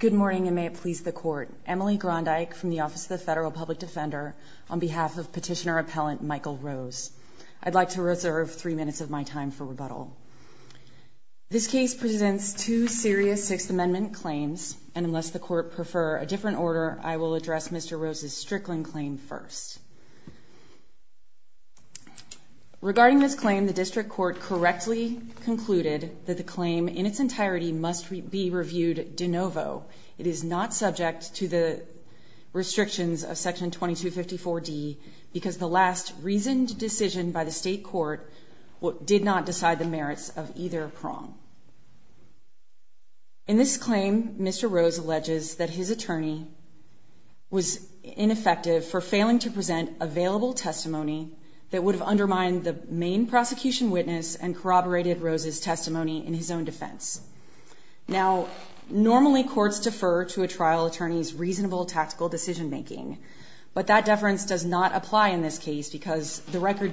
Good morning, and may it please the Court. Emily Grondyke from the Office of the Federal Public Defender, on behalf of Petitioner Appellant Michael Rose. I'd like to reserve three minutes of my time for rebuttal. This case presents two serious Sixth Amendment claims, and unless the Court prefer a different order, I will address Mr. Rose's Strickland claim first. Regarding this claim, the District Court correctly concluded that the claim in its entirety must be reviewed de novo. It is not subject to the restrictions of Section 2254 D because the last reasoned decision by the state court did not decide the merits of either prong. In this claim, Mr. Rose alleges that his attorney was ineffective for failing to present available testimony that would have undermined the main prosecution witness and corroborated Rose's testimony in his own defense. Now, normally courts defer to a trial attorney's reasonable tactical decision making, but that deference does not apply in this case because the record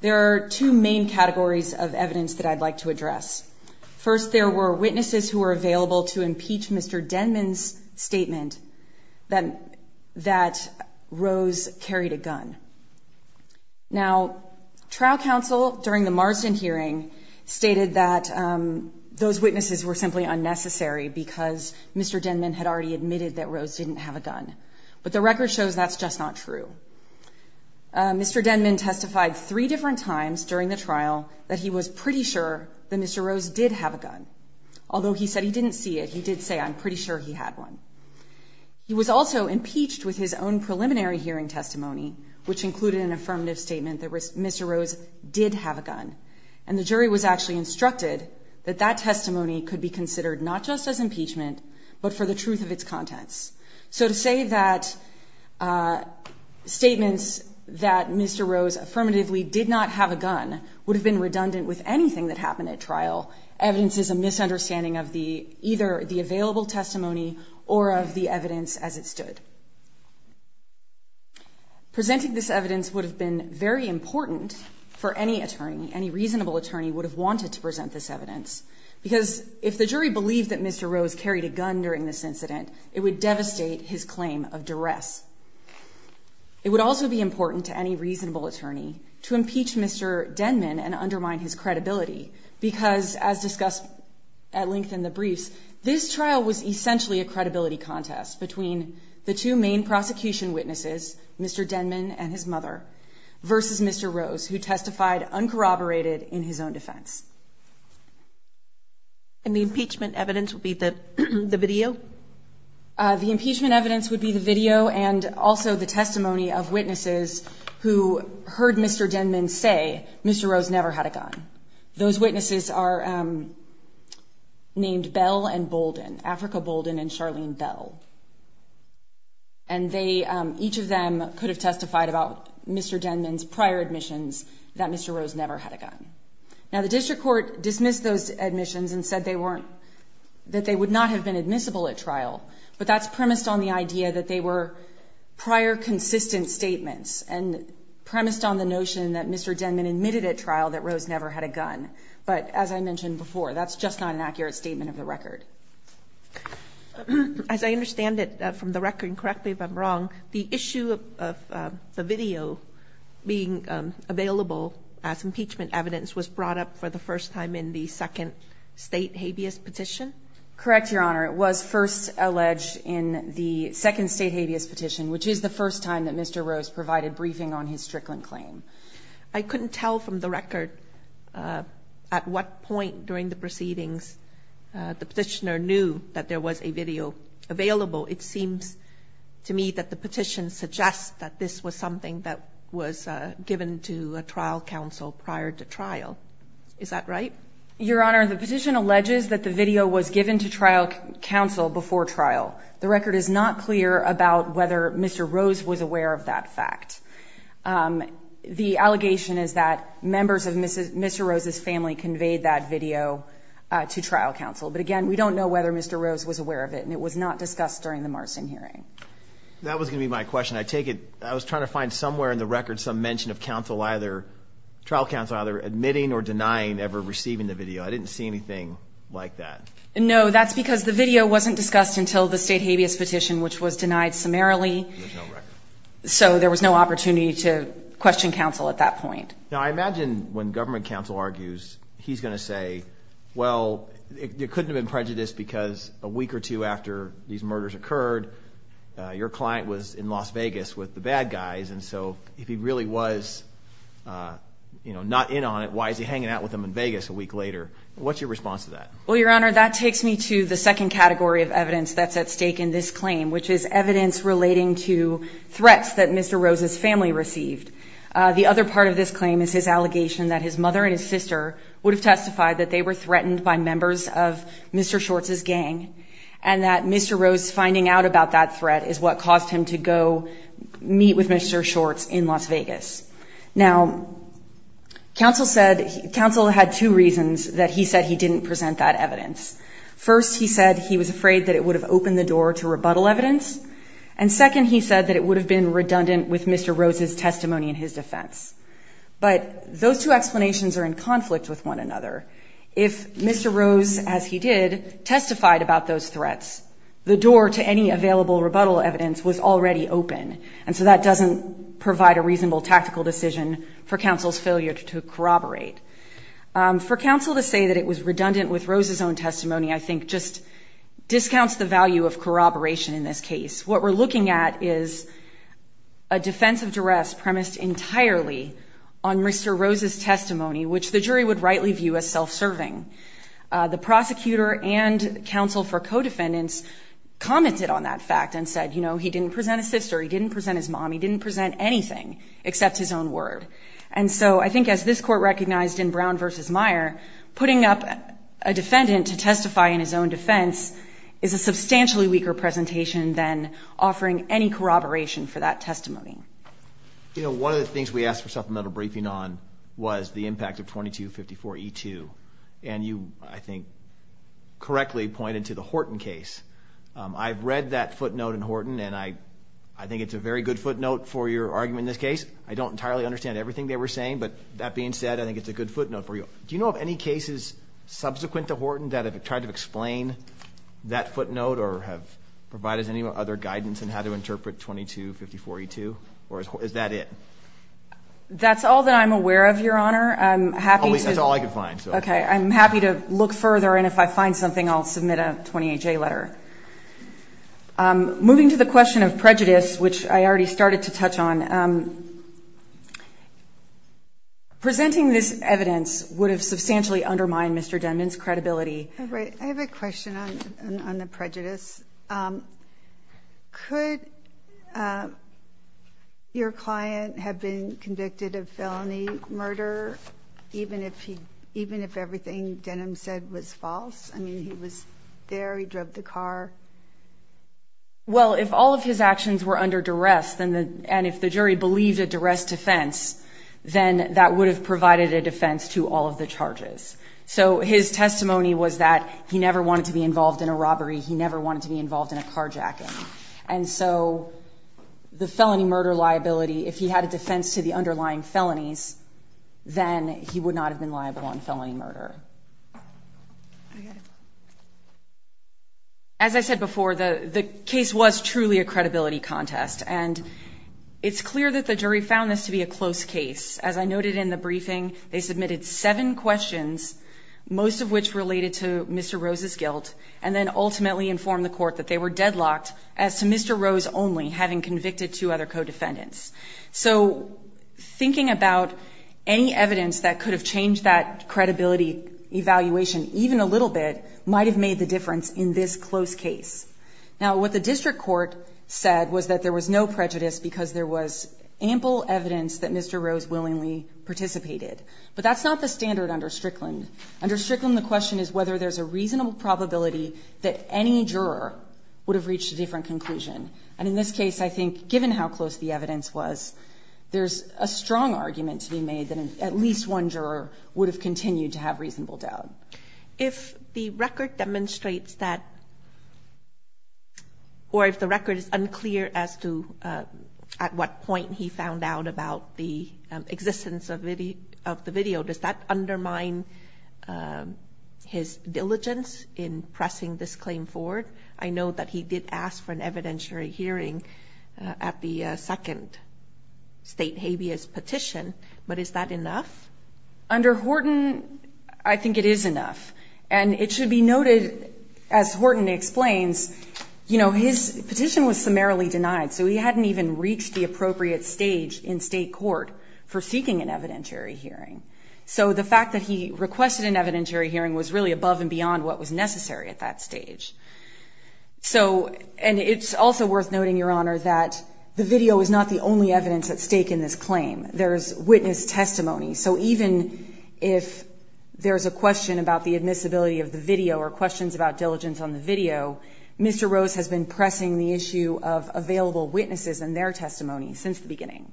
There are two main categories of evidence that I'd like to address. First, there were witnesses who were available to impeach Mr. Denman's statement that Rose carried a gun. Now, trial counsel during the Marsden hearing stated that those witnesses were simply unnecessary because Mr. Denman had already admitted that Rose didn't have a gun. But the record shows that's just not true. Mr. Denman testified three different times during the trial that he was pretty sure that Mr. Rose did have a gun. Although he said he didn't see it, he did say, I'm pretty sure he had one. He was also impeached with his own preliminary hearing testimony, which included an affirmative statement that Mr. Rose did have a gun. And the jury was actually instructed that that testimony could be considered not just as statements that Mr. Rose affirmatively did not have a gun would have been redundant with anything that happened at trial. Evidence is a misunderstanding of the either the available testimony or of the evidence as it stood. Presenting this evidence would have been very important for any attorney. Any reasonable attorney would have wanted to present this evidence because if the jury believed that it would also be important to any reasonable attorney to impeach Mr. Denman and undermine his credibility. Because as discussed at length in the briefs, this trial was essentially a credibility contest between the two main prosecution witnesses, Mr. Denman and his mother versus Mr. Rose, who testified uncorroborated in his own defense. And the impeachment evidence would be that the video, the impeachment evidence would be the video and also the testimony of witnesses who heard Mr. Denman say Mr. Rose never had a gun. Those witnesses are named Bell and Bolden, Africa Bolden and Charlene Bell. And they each of them could have testified about Mr. Denman's prior admissions that Mr. Rose never had a gun. Now, the district court dismissed those admissions and said they weren't, that they would not have been admissible at trial. But that's premised on the idea that they were prior consistent statements and premised on the notion that Mr. Denman admitted at trial that Rose never had a gun. But as I mentioned before, that's just not an accurate statement of the record. As I understand it from the record, and correct me if I'm wrong, the issue of the video being available as impeachment evidence was brought up for the first time in the second state habeas petition? Correct, Your Honor. It was first alleged in the second state habeas petition, which is the first time that Mr. Rose provided briefing on his Strickland claim. I couldn't tell from the record at what point during the proceedings the petitioner knew that there was a video available. It seems to me that the petition suggests that this was something that was given to a trial counsel prior to trial. Is that right? Your Honor, the petition alleges that the video was given to trial counsel before trial. The record is not clear about whether Mr. Rose was aware of that fact. The allegation is that members of Mr. Rose's family conveyed that video to trial counsel. But again, we don't know whether Mr. Rose was aware of it and it was not discussed during the Marsden hearing. That was going to be my question. I take it, I was trying to find somewhere in the record some mention of trial counsel either admitting or denying ever receiving the video. I didn't see anything like that. No, that's because the video wasn't discussed until the state habeas petition, which was denied summarily. So there was no opportunity to question counsel at that point. Now I imagine when government counsel argues, he's going to say, well, it couldn't have been prejudiced because a week or two after these murders occurred, your client was in Las Vegas with the bad guys. And so if he really was, you know, not in on it, why is he hanging out with them in Vegas a week later? What's your response to that? Well, Your Honor, that takes me to the second category of evidence that's at stake in this claim, which is evidence relating to threats that Mr. Rose's family received. The other part of this claim is his allegation that his mother and his sister would testify that they were threatened by members of Mr. Short's gang and that Mr. Rose's finding out about that threat is what caused him to go meet with Mr. Short's in Las Vegas. Now, counsel said, counsel had two reasons that he said he didn't present that evidence. First, he said he was afraid that it would have opened the door to rebuttal evidence. And second, he said that it would have been redundant with Mr. Rose's testimony in his defense. But those two explanations are in If Mr. Rose, as he did, testified about those threats, the door to any available rebuttal evidence was already open. And so that doesn't provide a reasonable tactical decision for counsel's failure to corroborate. For counsel to say that it was redundant with Rose's own testimony, I think just discounts the value of corroboration in this case. What we're looking at is a defense of duress premised entirely on Mr. Rose's testimony, which the jury would rightly view as self-serving. The prosecutor and counsel for co-defendants commented on that fact and said, you know, he didn't present a sister, he didn't present his mom, he didn't present anything except his own word. And so I think as this court recognized in Brown versus Meyer, putting up a defendant to testify in his own defense is a substantially weaker presentation than offering any corroboration for that testimony. You know, one of the things we asked for supplemental briefing on was the impact of 2254E2, and you, I think, correctly pointed to the Horton case. I've read that footnote in Horton, and I think it's a very good footnote for your argument in this case. I don't entirely understand everything they were saying, but that being said, I think it's a good footnote for you. Do you know of any cases subsequent to Horton that have tried to explain that footnote or have provided any other guidance in how to interpret 2254E2, or is that it? That's all that I'm aware of, Your Honor. I'm happy to... That's all I could find, so... Okay. I'm happy to look further, and if I find something, I'll submit a 28J letter. Moving to the question of prejudice, which I already started to touch on, presenting this evidence would have substantially undermined Mr. Denman's credibility. Right. I have a question on the prejudice. Could your client have been convicted of felony murder, even if everything Denman said was false? I mean, he was there. He drove the car. Well, if all of his actions were under duress, and if the jury believed a duress defense, then that would have provided a defense to all of the charges. So his testimony was that he never wanted to be involved in a robbery. He never wanted to be involved in a carjacking. And so the felony murder liability, if he had a defense to the underlying felonies, then he would not have been liable on felony murder. As I said before, the case was truly a credibility contest, and it's clear that the jury found this to be a close case. As I noted in the briefing, they submitted seven questions, most of which related to Mr. Rose's guilt, and then ultimately informed the court that they were deadlocked as to Mr. Rose only having convicted two other co-defendants. So thinking about any evidence that could have changed that credibility evaluation even a little bit might have made the difference in this close case. Now, what the district court said was that there was no prejudice because there was ample evidence that Mr. Rose willingly participated. But that's not the standard under Strickland. Under Strickland, the question is whether there's a reasonable probability that any juror would have reached a different conclusion. And in this case, I think given how close the evidence was, there's a strong argument to be made that at least one juror would have continued to have reasonable doubt. If the record demonstrates that, or if the record is unclear as to at what point he found out about the existence of the video, does that undermine his diligence in pressing this claim forward? I know that he did ask for an evidentiary hearing at the second state habeas petition, but is that enough? Under Horton, I think it is enough. And it should be noted, as Horton explains, his petition was summarily denied, so he hadn't even reached the appropriate stage in state court for seeking an evidentiary hearing. So the fact that he requested an evidentiary hearing was really above and beyond what was necessary at that stage. And it's also worth noting, Your Honor, that the video is not the only evidence at stake in this claim. There's witness testimony. So even if there's a question about the admissibility of the video or questions about diligence on the video, Mr. Rose has been pressing the issue of available witnesses and their testimony since the beginning.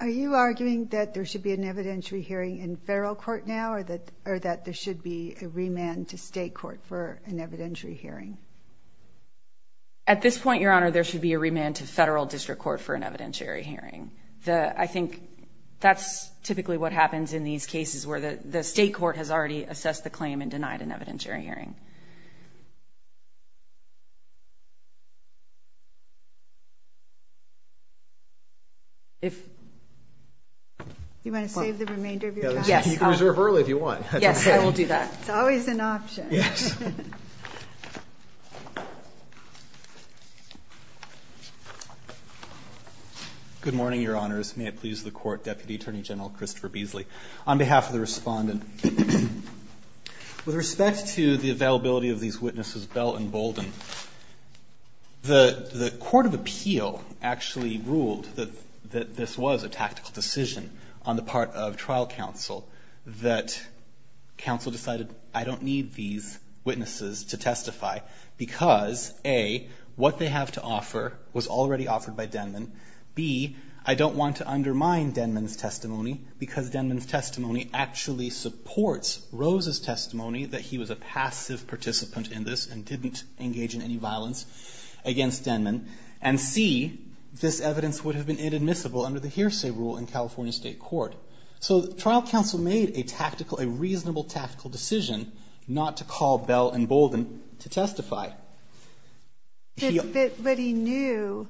Are you arguing that there should be an evidentiary hearing in federal court now, or that there should be a remand to state court for an evidentiary hearing? At this point, Your Honor, there should be a remand to federal district court for an evidentiary hearing. I think that's typically what happens in these cases where the state court has already assessed the claim and denied an evidentiary hearing. You want to save the remainder of your time? You can reserve early if you want. Yes, I will do that. It's always an option. Good morning, Your Honors. May it please the Court, Deputy Attorney General Christopher Beasley. On behalf of the respondent, with respect to the availability of these witnesses Bell and Bolden, the Court of Appeal actually ruled that this was a tactical decision on the part of trial counsel that counsel decided I don't need these witnesses to testify because, A, what they have to offer was already offered by Denman. B, I don't want to undermine Denman's testimony because Denman's testimony actually supports Rose's testimony that he was a passive participant in this and didn't engage in any violence against Denman. And C, this evidence would have been inadmissible under the tactical, a reasonable tactical decision not to call Bell and Bolden to testify. But he knew,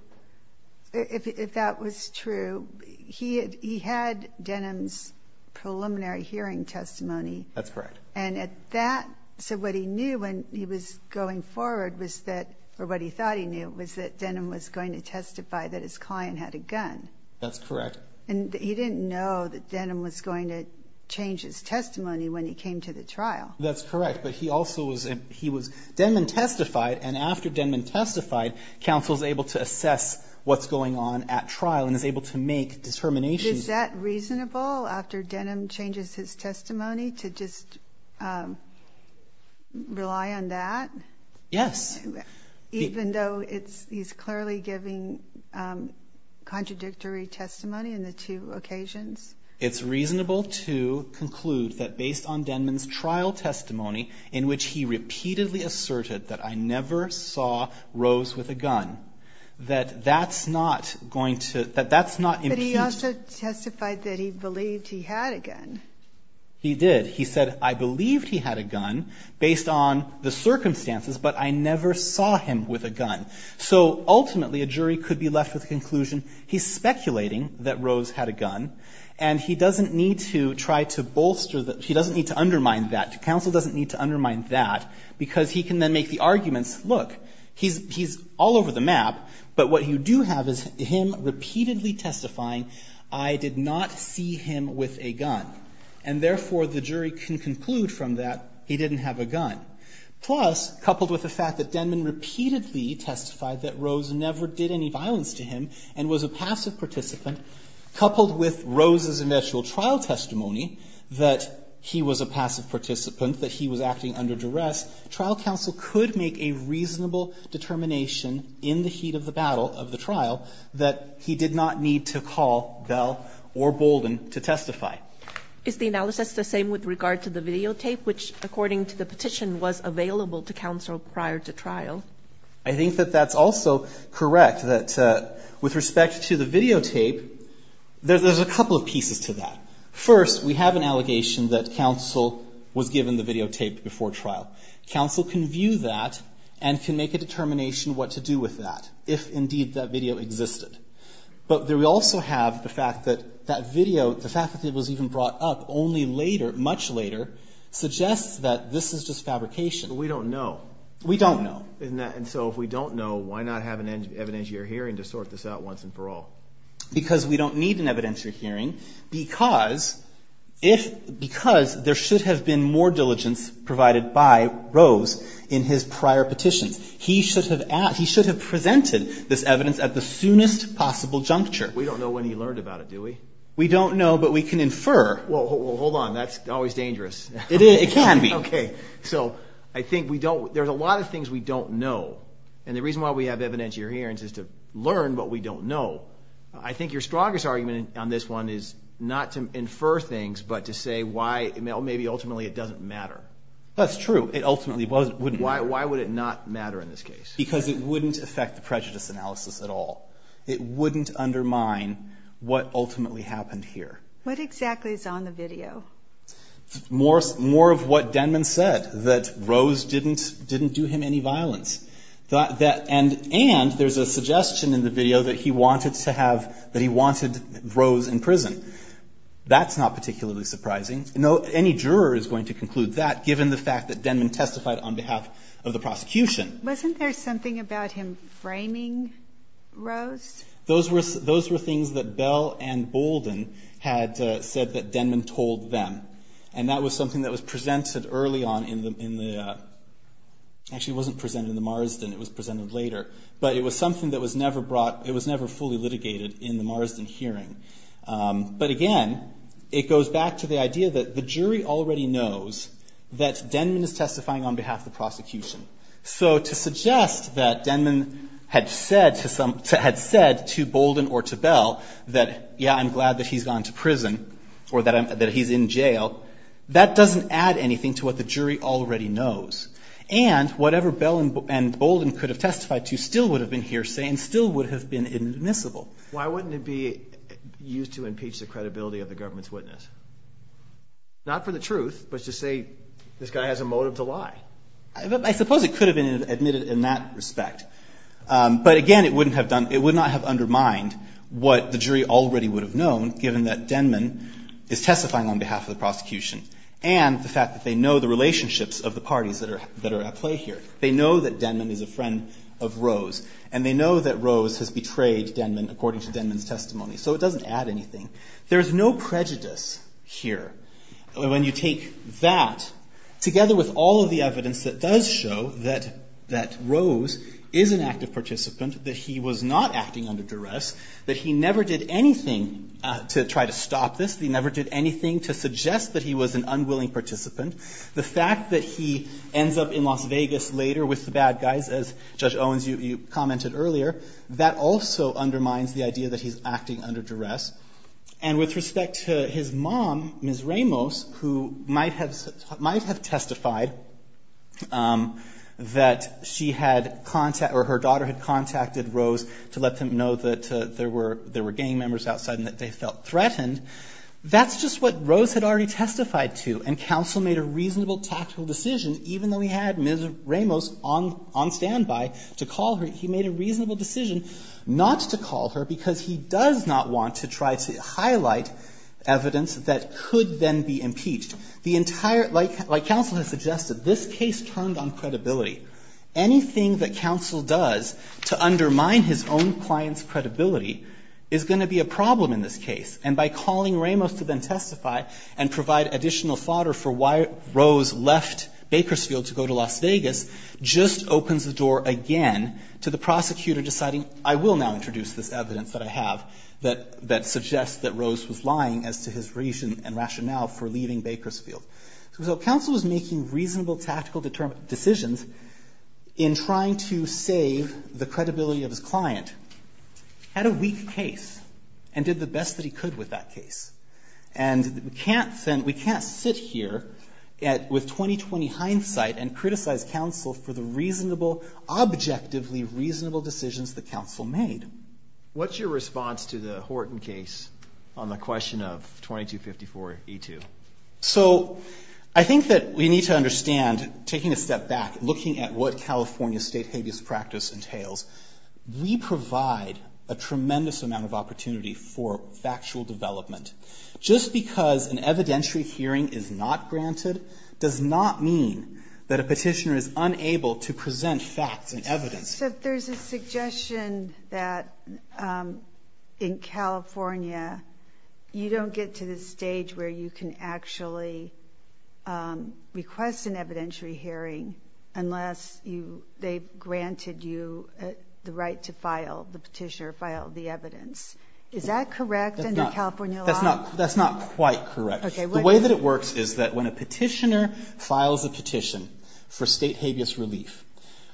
if that was true, he had Denman's preliminary hearing testimony. That's correct. And at that, so what he knew when he was going forward was that, or what he thought he knew, was that Denman was going to testify that his client had a gun. That's correct. And he didn't know that Denman was going to change his testimony when he came to the trial. That's correct. But he also was, he was, Denman testified and after Denman testified, counsel is able to assess what's going on at trial and is able to make determinations. Is that reasonable after Denman changes his testimony to just rely on that? Yes. Even though it's, he's clearly giving contradictory testimony in the two occasions? It's reasonable to conclude that based on Denman's trial testimony, in which he repeatedly asserted that I never saw Rose with a gun, that that's not going to, that that's not. But he also testified that he believed he had a gun. He did. He said, I believed he had a gun based on the circumstances, but I never saw him with a gun. So ultimately, a jury could be left with the conclusion, he's speculating that Rose had a gun and he doesn't need to try to bolster that. He doesn't need to undermine that. Counsel doesn't need to undermine that because he can then make the arguments, look, he's all over the map, but what you do have is him repeatedly testifying, I did not see him with a gun. And therefore, the jury can conclude from that, he didn't have a gun. Plus, coupled with the fact that Denman repeatedly testified that Rose never did any violence to him and was a passive participant, coupled with Rose's initial trial testimony that he was a passive participant, that he was acting under duress, trial counsel could make a reasonable determination in the heat of the battle of the trial that he did not need to call Bell or Bolden to testify. Is the analysis the same regard to the videotape, which according to the petition was available to counsel prior to trial? I think that that's also correct, that with respect to the videotape, there's a couple of pieces to that. First, we have an allegation that counsel was given the videotape before trial. Counsel can view that and can make a determination what to do with that, if indeed that video existed. But we also have the fact that that video, the fact that it was even brought up only later, much later, suggests that this is just fabrication. We don't know. We don't know. And so if we don't know, why not have an evidentiary hearing to sort this out once and for all? Because we don't need an evidentiary hearing because there should have been more diligence provided by Rose in his prior petitions. He should have presented this evidence at the soonest possible juncture. We don't know when he learned about it, do we? We don't know, but we can infer. Well, hold on. That's always dangerous. It can be. Okay. So I think there's a lot of things we don't know. And the reason why we have evidentiary hearings is to learn what we don't know. I think your strongest argument on this one is not to infer things, but to say why, well, maybe ultimately it doesn't matter. That's true. It ultimately wouldn't. Why would it not matter in this case? Because it wouldn't affect the prejudice analysis at all. It wouldn't undermine what ultimately happened here. What exactly is on the video? More of what Denman said, that Rose didn't do him any violence. And there's a suggestion in the video that he wanted Rose in prison. That's not particularly surprising. Any juror is going to conclude that, given the fact that Denman testified on behalf of the prosecution. Wasn't there something about him framing Rose? Those were things that Bell and Bolden had said that Denman told them. And that was something that was presented early on in the, actually it wasn't presented in the Marsden, it was presented later. But it was something that was never brought, it was never fully litigated in the Marsden hearing. But again, it goes back to the idea that the jury already knows that Denman is testifying on behalf of the prosecution. So to suggest that Denman had said to Bolden or to Bell that, yeah, I'm glad that he's gone to prison or that he's in jail. That doesn't add anything to what the jury already knows. And whatever Bell and Bolden could have testified to still would have been hearsay and still would have been inadmissible. Why wouldn't it be used to impeach the credibility of the government's witness? Not for the truth, but to say this guy has a motive to lie. I suppose it could have been admitted in that respect. But again, it would not have undermined what the jury already would have known given that Denman is testifying on behalf of the prosecution. And the fact that they know the relationships of the parties that are at play here. They know that Denman is a friend of Rose. And they know that Rose has betrayed Denman according to Denman's testimony. So it doesn't add anything. There's no prejudice here. When you take that together with all of the evidence that does show that Rose is an active participant, that he was not acting under duress, that he never did anything to try to stop this. He never did anything to suggest that he was an unwilling participant. The fact that he ends up in Las Vegas later with the bad guys as Judge Owens, you commented earlier, that also undermines the idea that he's acting under duress. And with respect to his mom, Ms. Ramos, who might have testified that she had contact or her daughter had contacted Rose to let them know that there were gang members outside and that they felt threatened. That's just what Rose had already testified to. And counsel made a reasonable tactical decision, even though he had Ms. Ramos on standby to call her. He made a reasonable decision not to call her because he does not want to try to highlight evidence that could then be impeached. The entire – like counsel has suggested, this case turned on credibility. Anything that counsel does to undermine his own client's credibility is going to be a problem in this case. And by calling Ramos to then testify and provide additional fodder for why Rose left Bakersfield to go to Las Vegas just opens the door again to the prosecutor deciding, I will now introduce this evidence that I have that suggests that Rose was lying as to his reason and rationale for leaving Bakersfield. So counsel was making reasonable tactical decisions in trying to save the credibility of his client, had a weak case, and did the best that he could with that case. And we can't sit here with 20-20 hindsight and criticize counsel for the reasonable – objectively reasonable decisions that counsel made. What's your response to the Horton case on the question of 2254E2? So I think that we need to understand, taking a step back, looking at what California state habeas practice entails, we provide a tremendous amount of opportunity for factual development. Just because an evidentiary hearing is not granted does not mean that a petitioner is unable to present facts and evidence. So there's a suggestion that in California you don't get to the stage where you can actually request an evidentiary hearing unless they've granted you the right to file, the petitioner filed the evidence. Is that correct under California law? That's not quite correct. The way that it works is that when a petitioner files a petition for state habeas relief,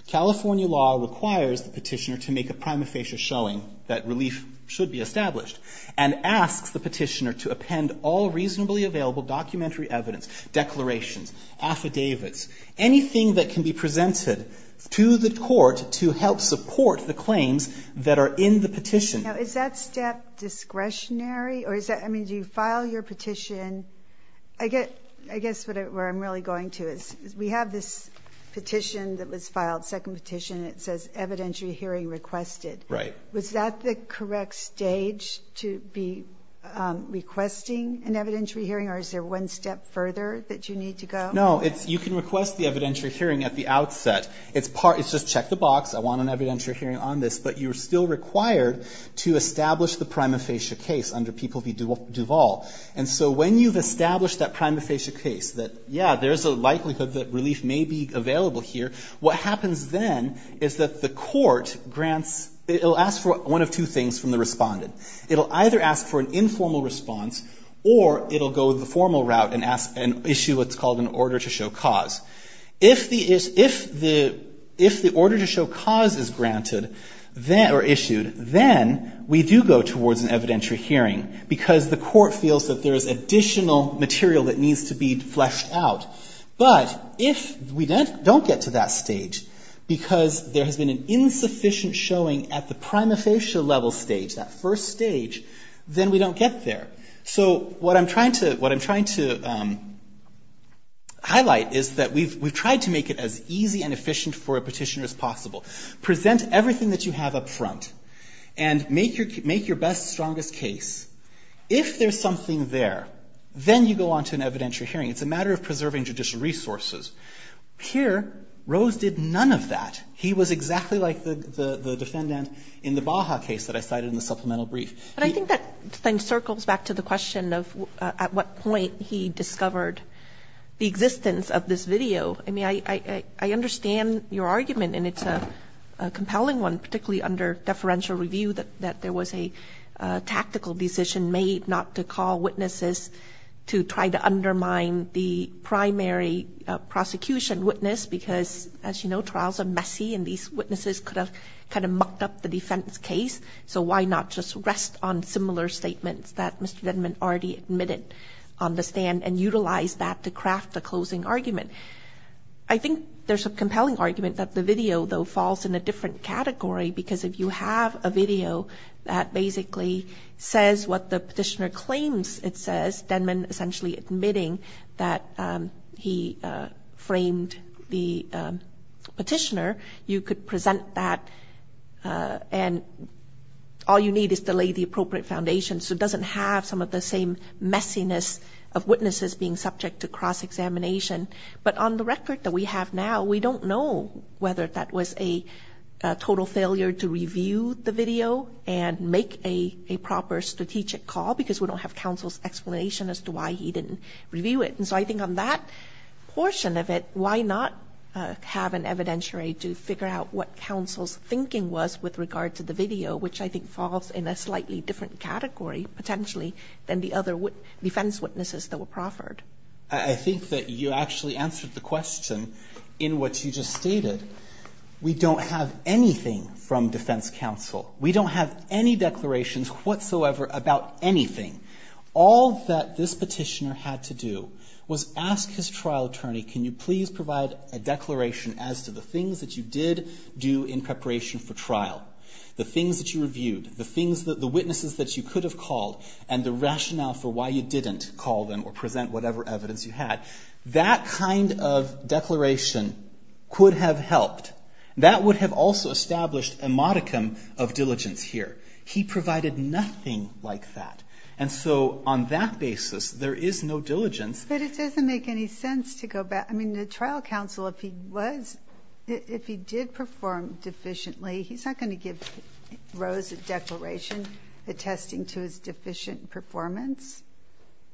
California law requires the petitioner to make a prima facie showing that relief should be established and asks the petitioner to append all reasonably available documentary evidence, declarations, affidavits, anything that can be presented to the court to help support the claims that are in the petition. Is that step discretionary? Do you file your petition? I guess where I'm really going to is we have this petition that was filed, second petition, and it says evidentiary hearing requested. Was that the correct stage to be requesting an evidentiary hearing, or is there one step further that you need to go? No, you can request the evidentiary hearing at the outset. It's just check the box, I want an evidentiary hearing on this, but you're still required to establish the prima facie case under people v. Duvall. And so when you've established that prima facie case that, yeah, there's a likelihood that relief may be available here, what happens then is that the court grants, it'll ask for one of two things from the respondent. It'll either ask for an informal response or it'll go the formal route and issue what's called an order to show cause. If the order to show cause is granted or issued, then we do go towards an evidentiary hearing because the court feels that there is additional material that needs to be fleshed out. But if we don't get to that stage because there has been an insufficient showing at the prima facie level stage, that first stage, then we don't get there. So what I'm trying to highlight is that we've tried to make it as easy and efficient for a petitioner as possible. Present everything that you have up front and make your best, strongest case. If there's something there, then you go on to an evidentiary hearing. It's a matter of preserving judicial resources. Here, Rose did none of that. He was exactly like the defendant in the Baja case that I cited in the supplemental brief. But I think that then circles back to the question of at what point he discovered the existence of this video. I mean, I understand your argument, and it's a compelling one, particularly under deferential review, that there was a tactical decision made not to call witnesses to try to undermine the primary prosecution witness because, as you know, trials are messy, and these witnesses could have kind of mucked up the defense case. So why not just rest on similar statements that Mr. Denman already admitted on the stand and utilize that to craft the closing argument? I think there's a compelling argument that the video, though, falls in a different category because if you have a video that basically says what the petitioner claims it says, Denman essentially admitting that he framed the petitioner, you could present that and all you need is to lay the appropriate foundation so it doesn't have some of the same messiness of witnesses being subject to cross-examination. But on the record that we have now, we don't know whether that was a total failure to review the video and make a proper strategic call because we don't have counsel's explanation as to why he didn't review it. And so I think on that portion of it, why not have an evidentiary to figure out what counsel's thinking was with regard to the video, which I think falls in a slightly different category, potentially, than the other defense witnesses that were proffered? I think that you actually answered the question in what you just stated. We don't have anything from defense counsel. We don't have any declarations whatsoever about anything. All that this petitioner had to do was ask his trial attorney, can you please provide a declaration as to the things that you did do in preparation for trial, the things that you reviewed, the witnesses that you could have called, and the rationale for why you didn't call them or present whatever evidence you had. That kind of declaration could have helped. That would have also established a modicum of diligence here. He provided nothing like that. And so on that basis, there is no diligence. But it doesn't make any sense to go back. I mean, the trial counsel, if he was, if he did perform deficiently, he's not going to give Rose a declaration attesting to his deficient performance.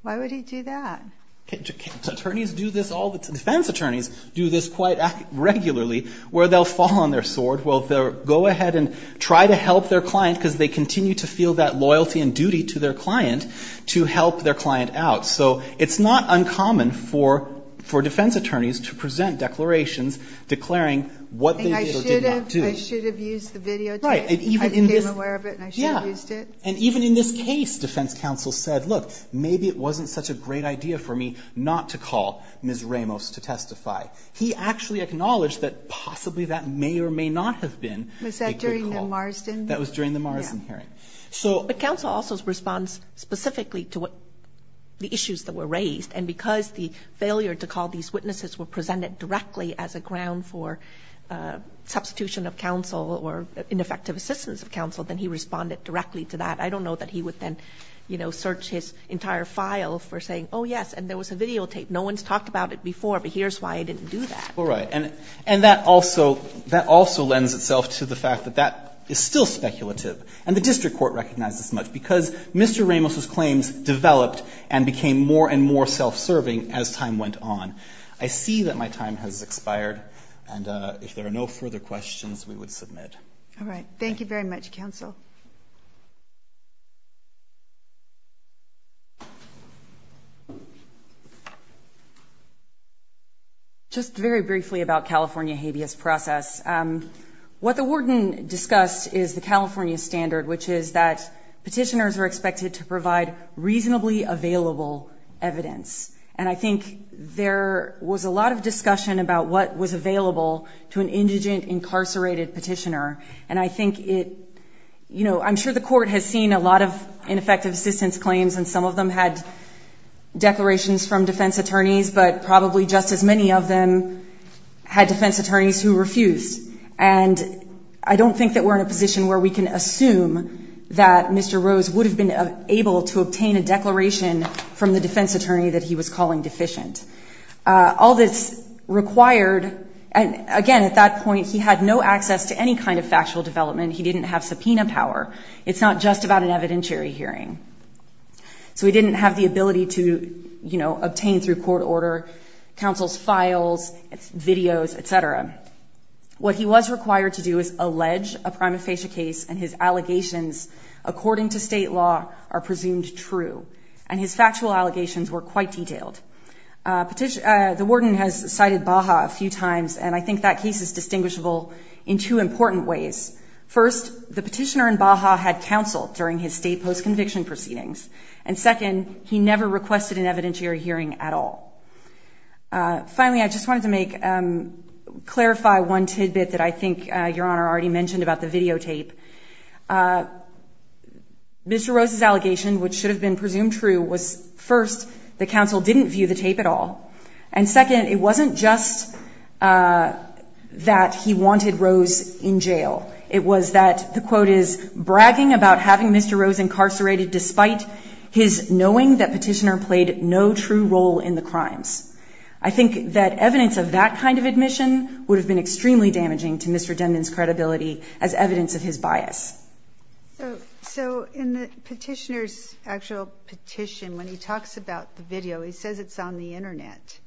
Why would he do that? Can't attorneys do this all the time? Defense attorneys do this quite regularly where they'll fall on their sword. Well, they'll go ahead and try to help their client because they continue to feel that loyalty and duty to their client to help their client out. So it's not uncommon for defense attorneys to present declarations declaring what they did or did not do. I should have used the video tape. I became aware of it and I should have used it. And even in this case, defense counsel said, look, maybe it wasn't such a great idea for me not to call Ms. Ramos to testify. He actually acknowledged that possibly that may or may not have been a good call. Was that during the Marsden? That was during the Marsden hearing. But counsel also responds specifically to what the issues that were raised. And because the failure to call these witnesses were presented directly as a ground for substitution of counsel or ineffective assistance of counsel, then he responded directly to that. I don't know that he would then, you know, search his entire file for saying, oh, yes, and there was a video tape. No one's talked about it before, but here's why I didn't do that. All right. And and that also that also lends itself to the fact that that is still speculative. And the district court recognizes much because Mr. Ramos' claims developed and became more and more self-serving as time went on. I see that my time has expired. And if there are no further questions, we would submit. All right. Thank you very much, counsel. Just very briefly about California habeas process, what the warden discussed is the California standard, which is that petitioners are expected to provide reasonably available evidence. And I think there was a lot of discussion about what was available to an indigent incarcerated petitioner. And I think it you know, I'm sure the court has seen a lot of ineffective assistance claims and some of them had declarations from defense attorneys, but probably just as many of them had defense attorneys who refused. And I don't think that we're in a position where we can assume that Mr. Rose would have been able to obtain a declaration from the defense attorney that he was calling deficient. All this required, and again, at that point, he had no access to any kind of factual development. He didn't have subpoena power. It's not just about an evidentiary hearing. So he didn't have the ability to, you know, obtain through court order, counsel's files, videos, etc. What he was required to do is allege a prima facie case and his allegations, according to state law, are presumed true. And his factual allegations were quite detailed. The warden has cited Baja a few times, and I think that case is distinguishable in two important ways. First, the petitioner in Baja had counsel during his state post-conviction proceedings. And second, he never requested an evidentiary hearing at all. Finally, I just wanted to clarify one tidbit that I think Your Honor already mentioned about the videotape. Mr. Rose's allegation, which should have been presumed true, was first, that counsel didn't view the tape at all. And second, it wasn't just that he wanted Rose in jail. It was that, the quote is, bragging about having Mr. Rose incarcerated despite his knowing that petitioner played no true role in the crimes. I think that evidence of that kind of admission would have been extremely damaging to Mr. Denman's credibility as evidence of his bias. So, in the petitioner's actual petition, when he talks about the video, he says it's on the internet.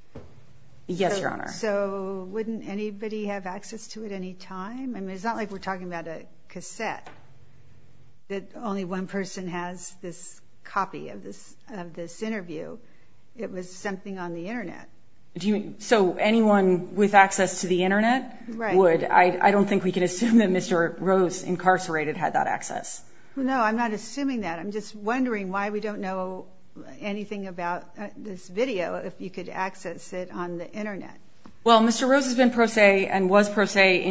Yes, Your Honor. So, wouldn't anybody have access to it any time? I mean, it's not like we're talking about a cassette, that only one person has this copy of this interview. It was something on the internet. Do you mean, so anyone with access to the internet would? I don't think we could assume that Mr. Rose, incarcerated, had that access. No, I'm not assuming that. I'm just wondering why we don't know anything about this video, if you could access it on the internet. Well, Mr. Rose has been pro se and was pro se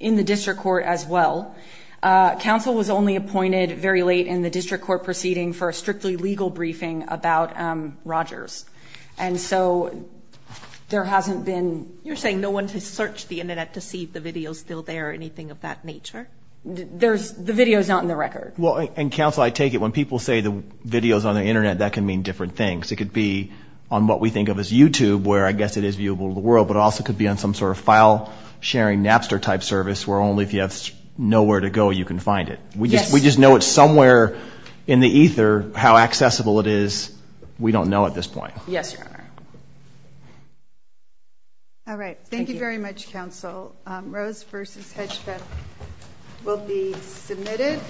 in the district court as well. Counsel was only appointed very late in the district court proceeding for a strictly legal briefing about Rogers. And so, there hasn't been... You're saying no one has searched the internet to see if the video's still there or anything of that nature? The video's not in the record. Well, and counsel, I take it when people say the videos on the internet, that can mean different things. It could be on what we think of as YouTube, where I guess it is viewable to the world, but it also could be on some sort of file sharing Napster type service, where only if you have nowhere to go, you can find it. We just know it's somewhere in the ether, how accessible it is, we don't know at this point. Yes, Your Honor. All right. Thank you very much, counsel. Rose versus Hedgepeth will be submitted.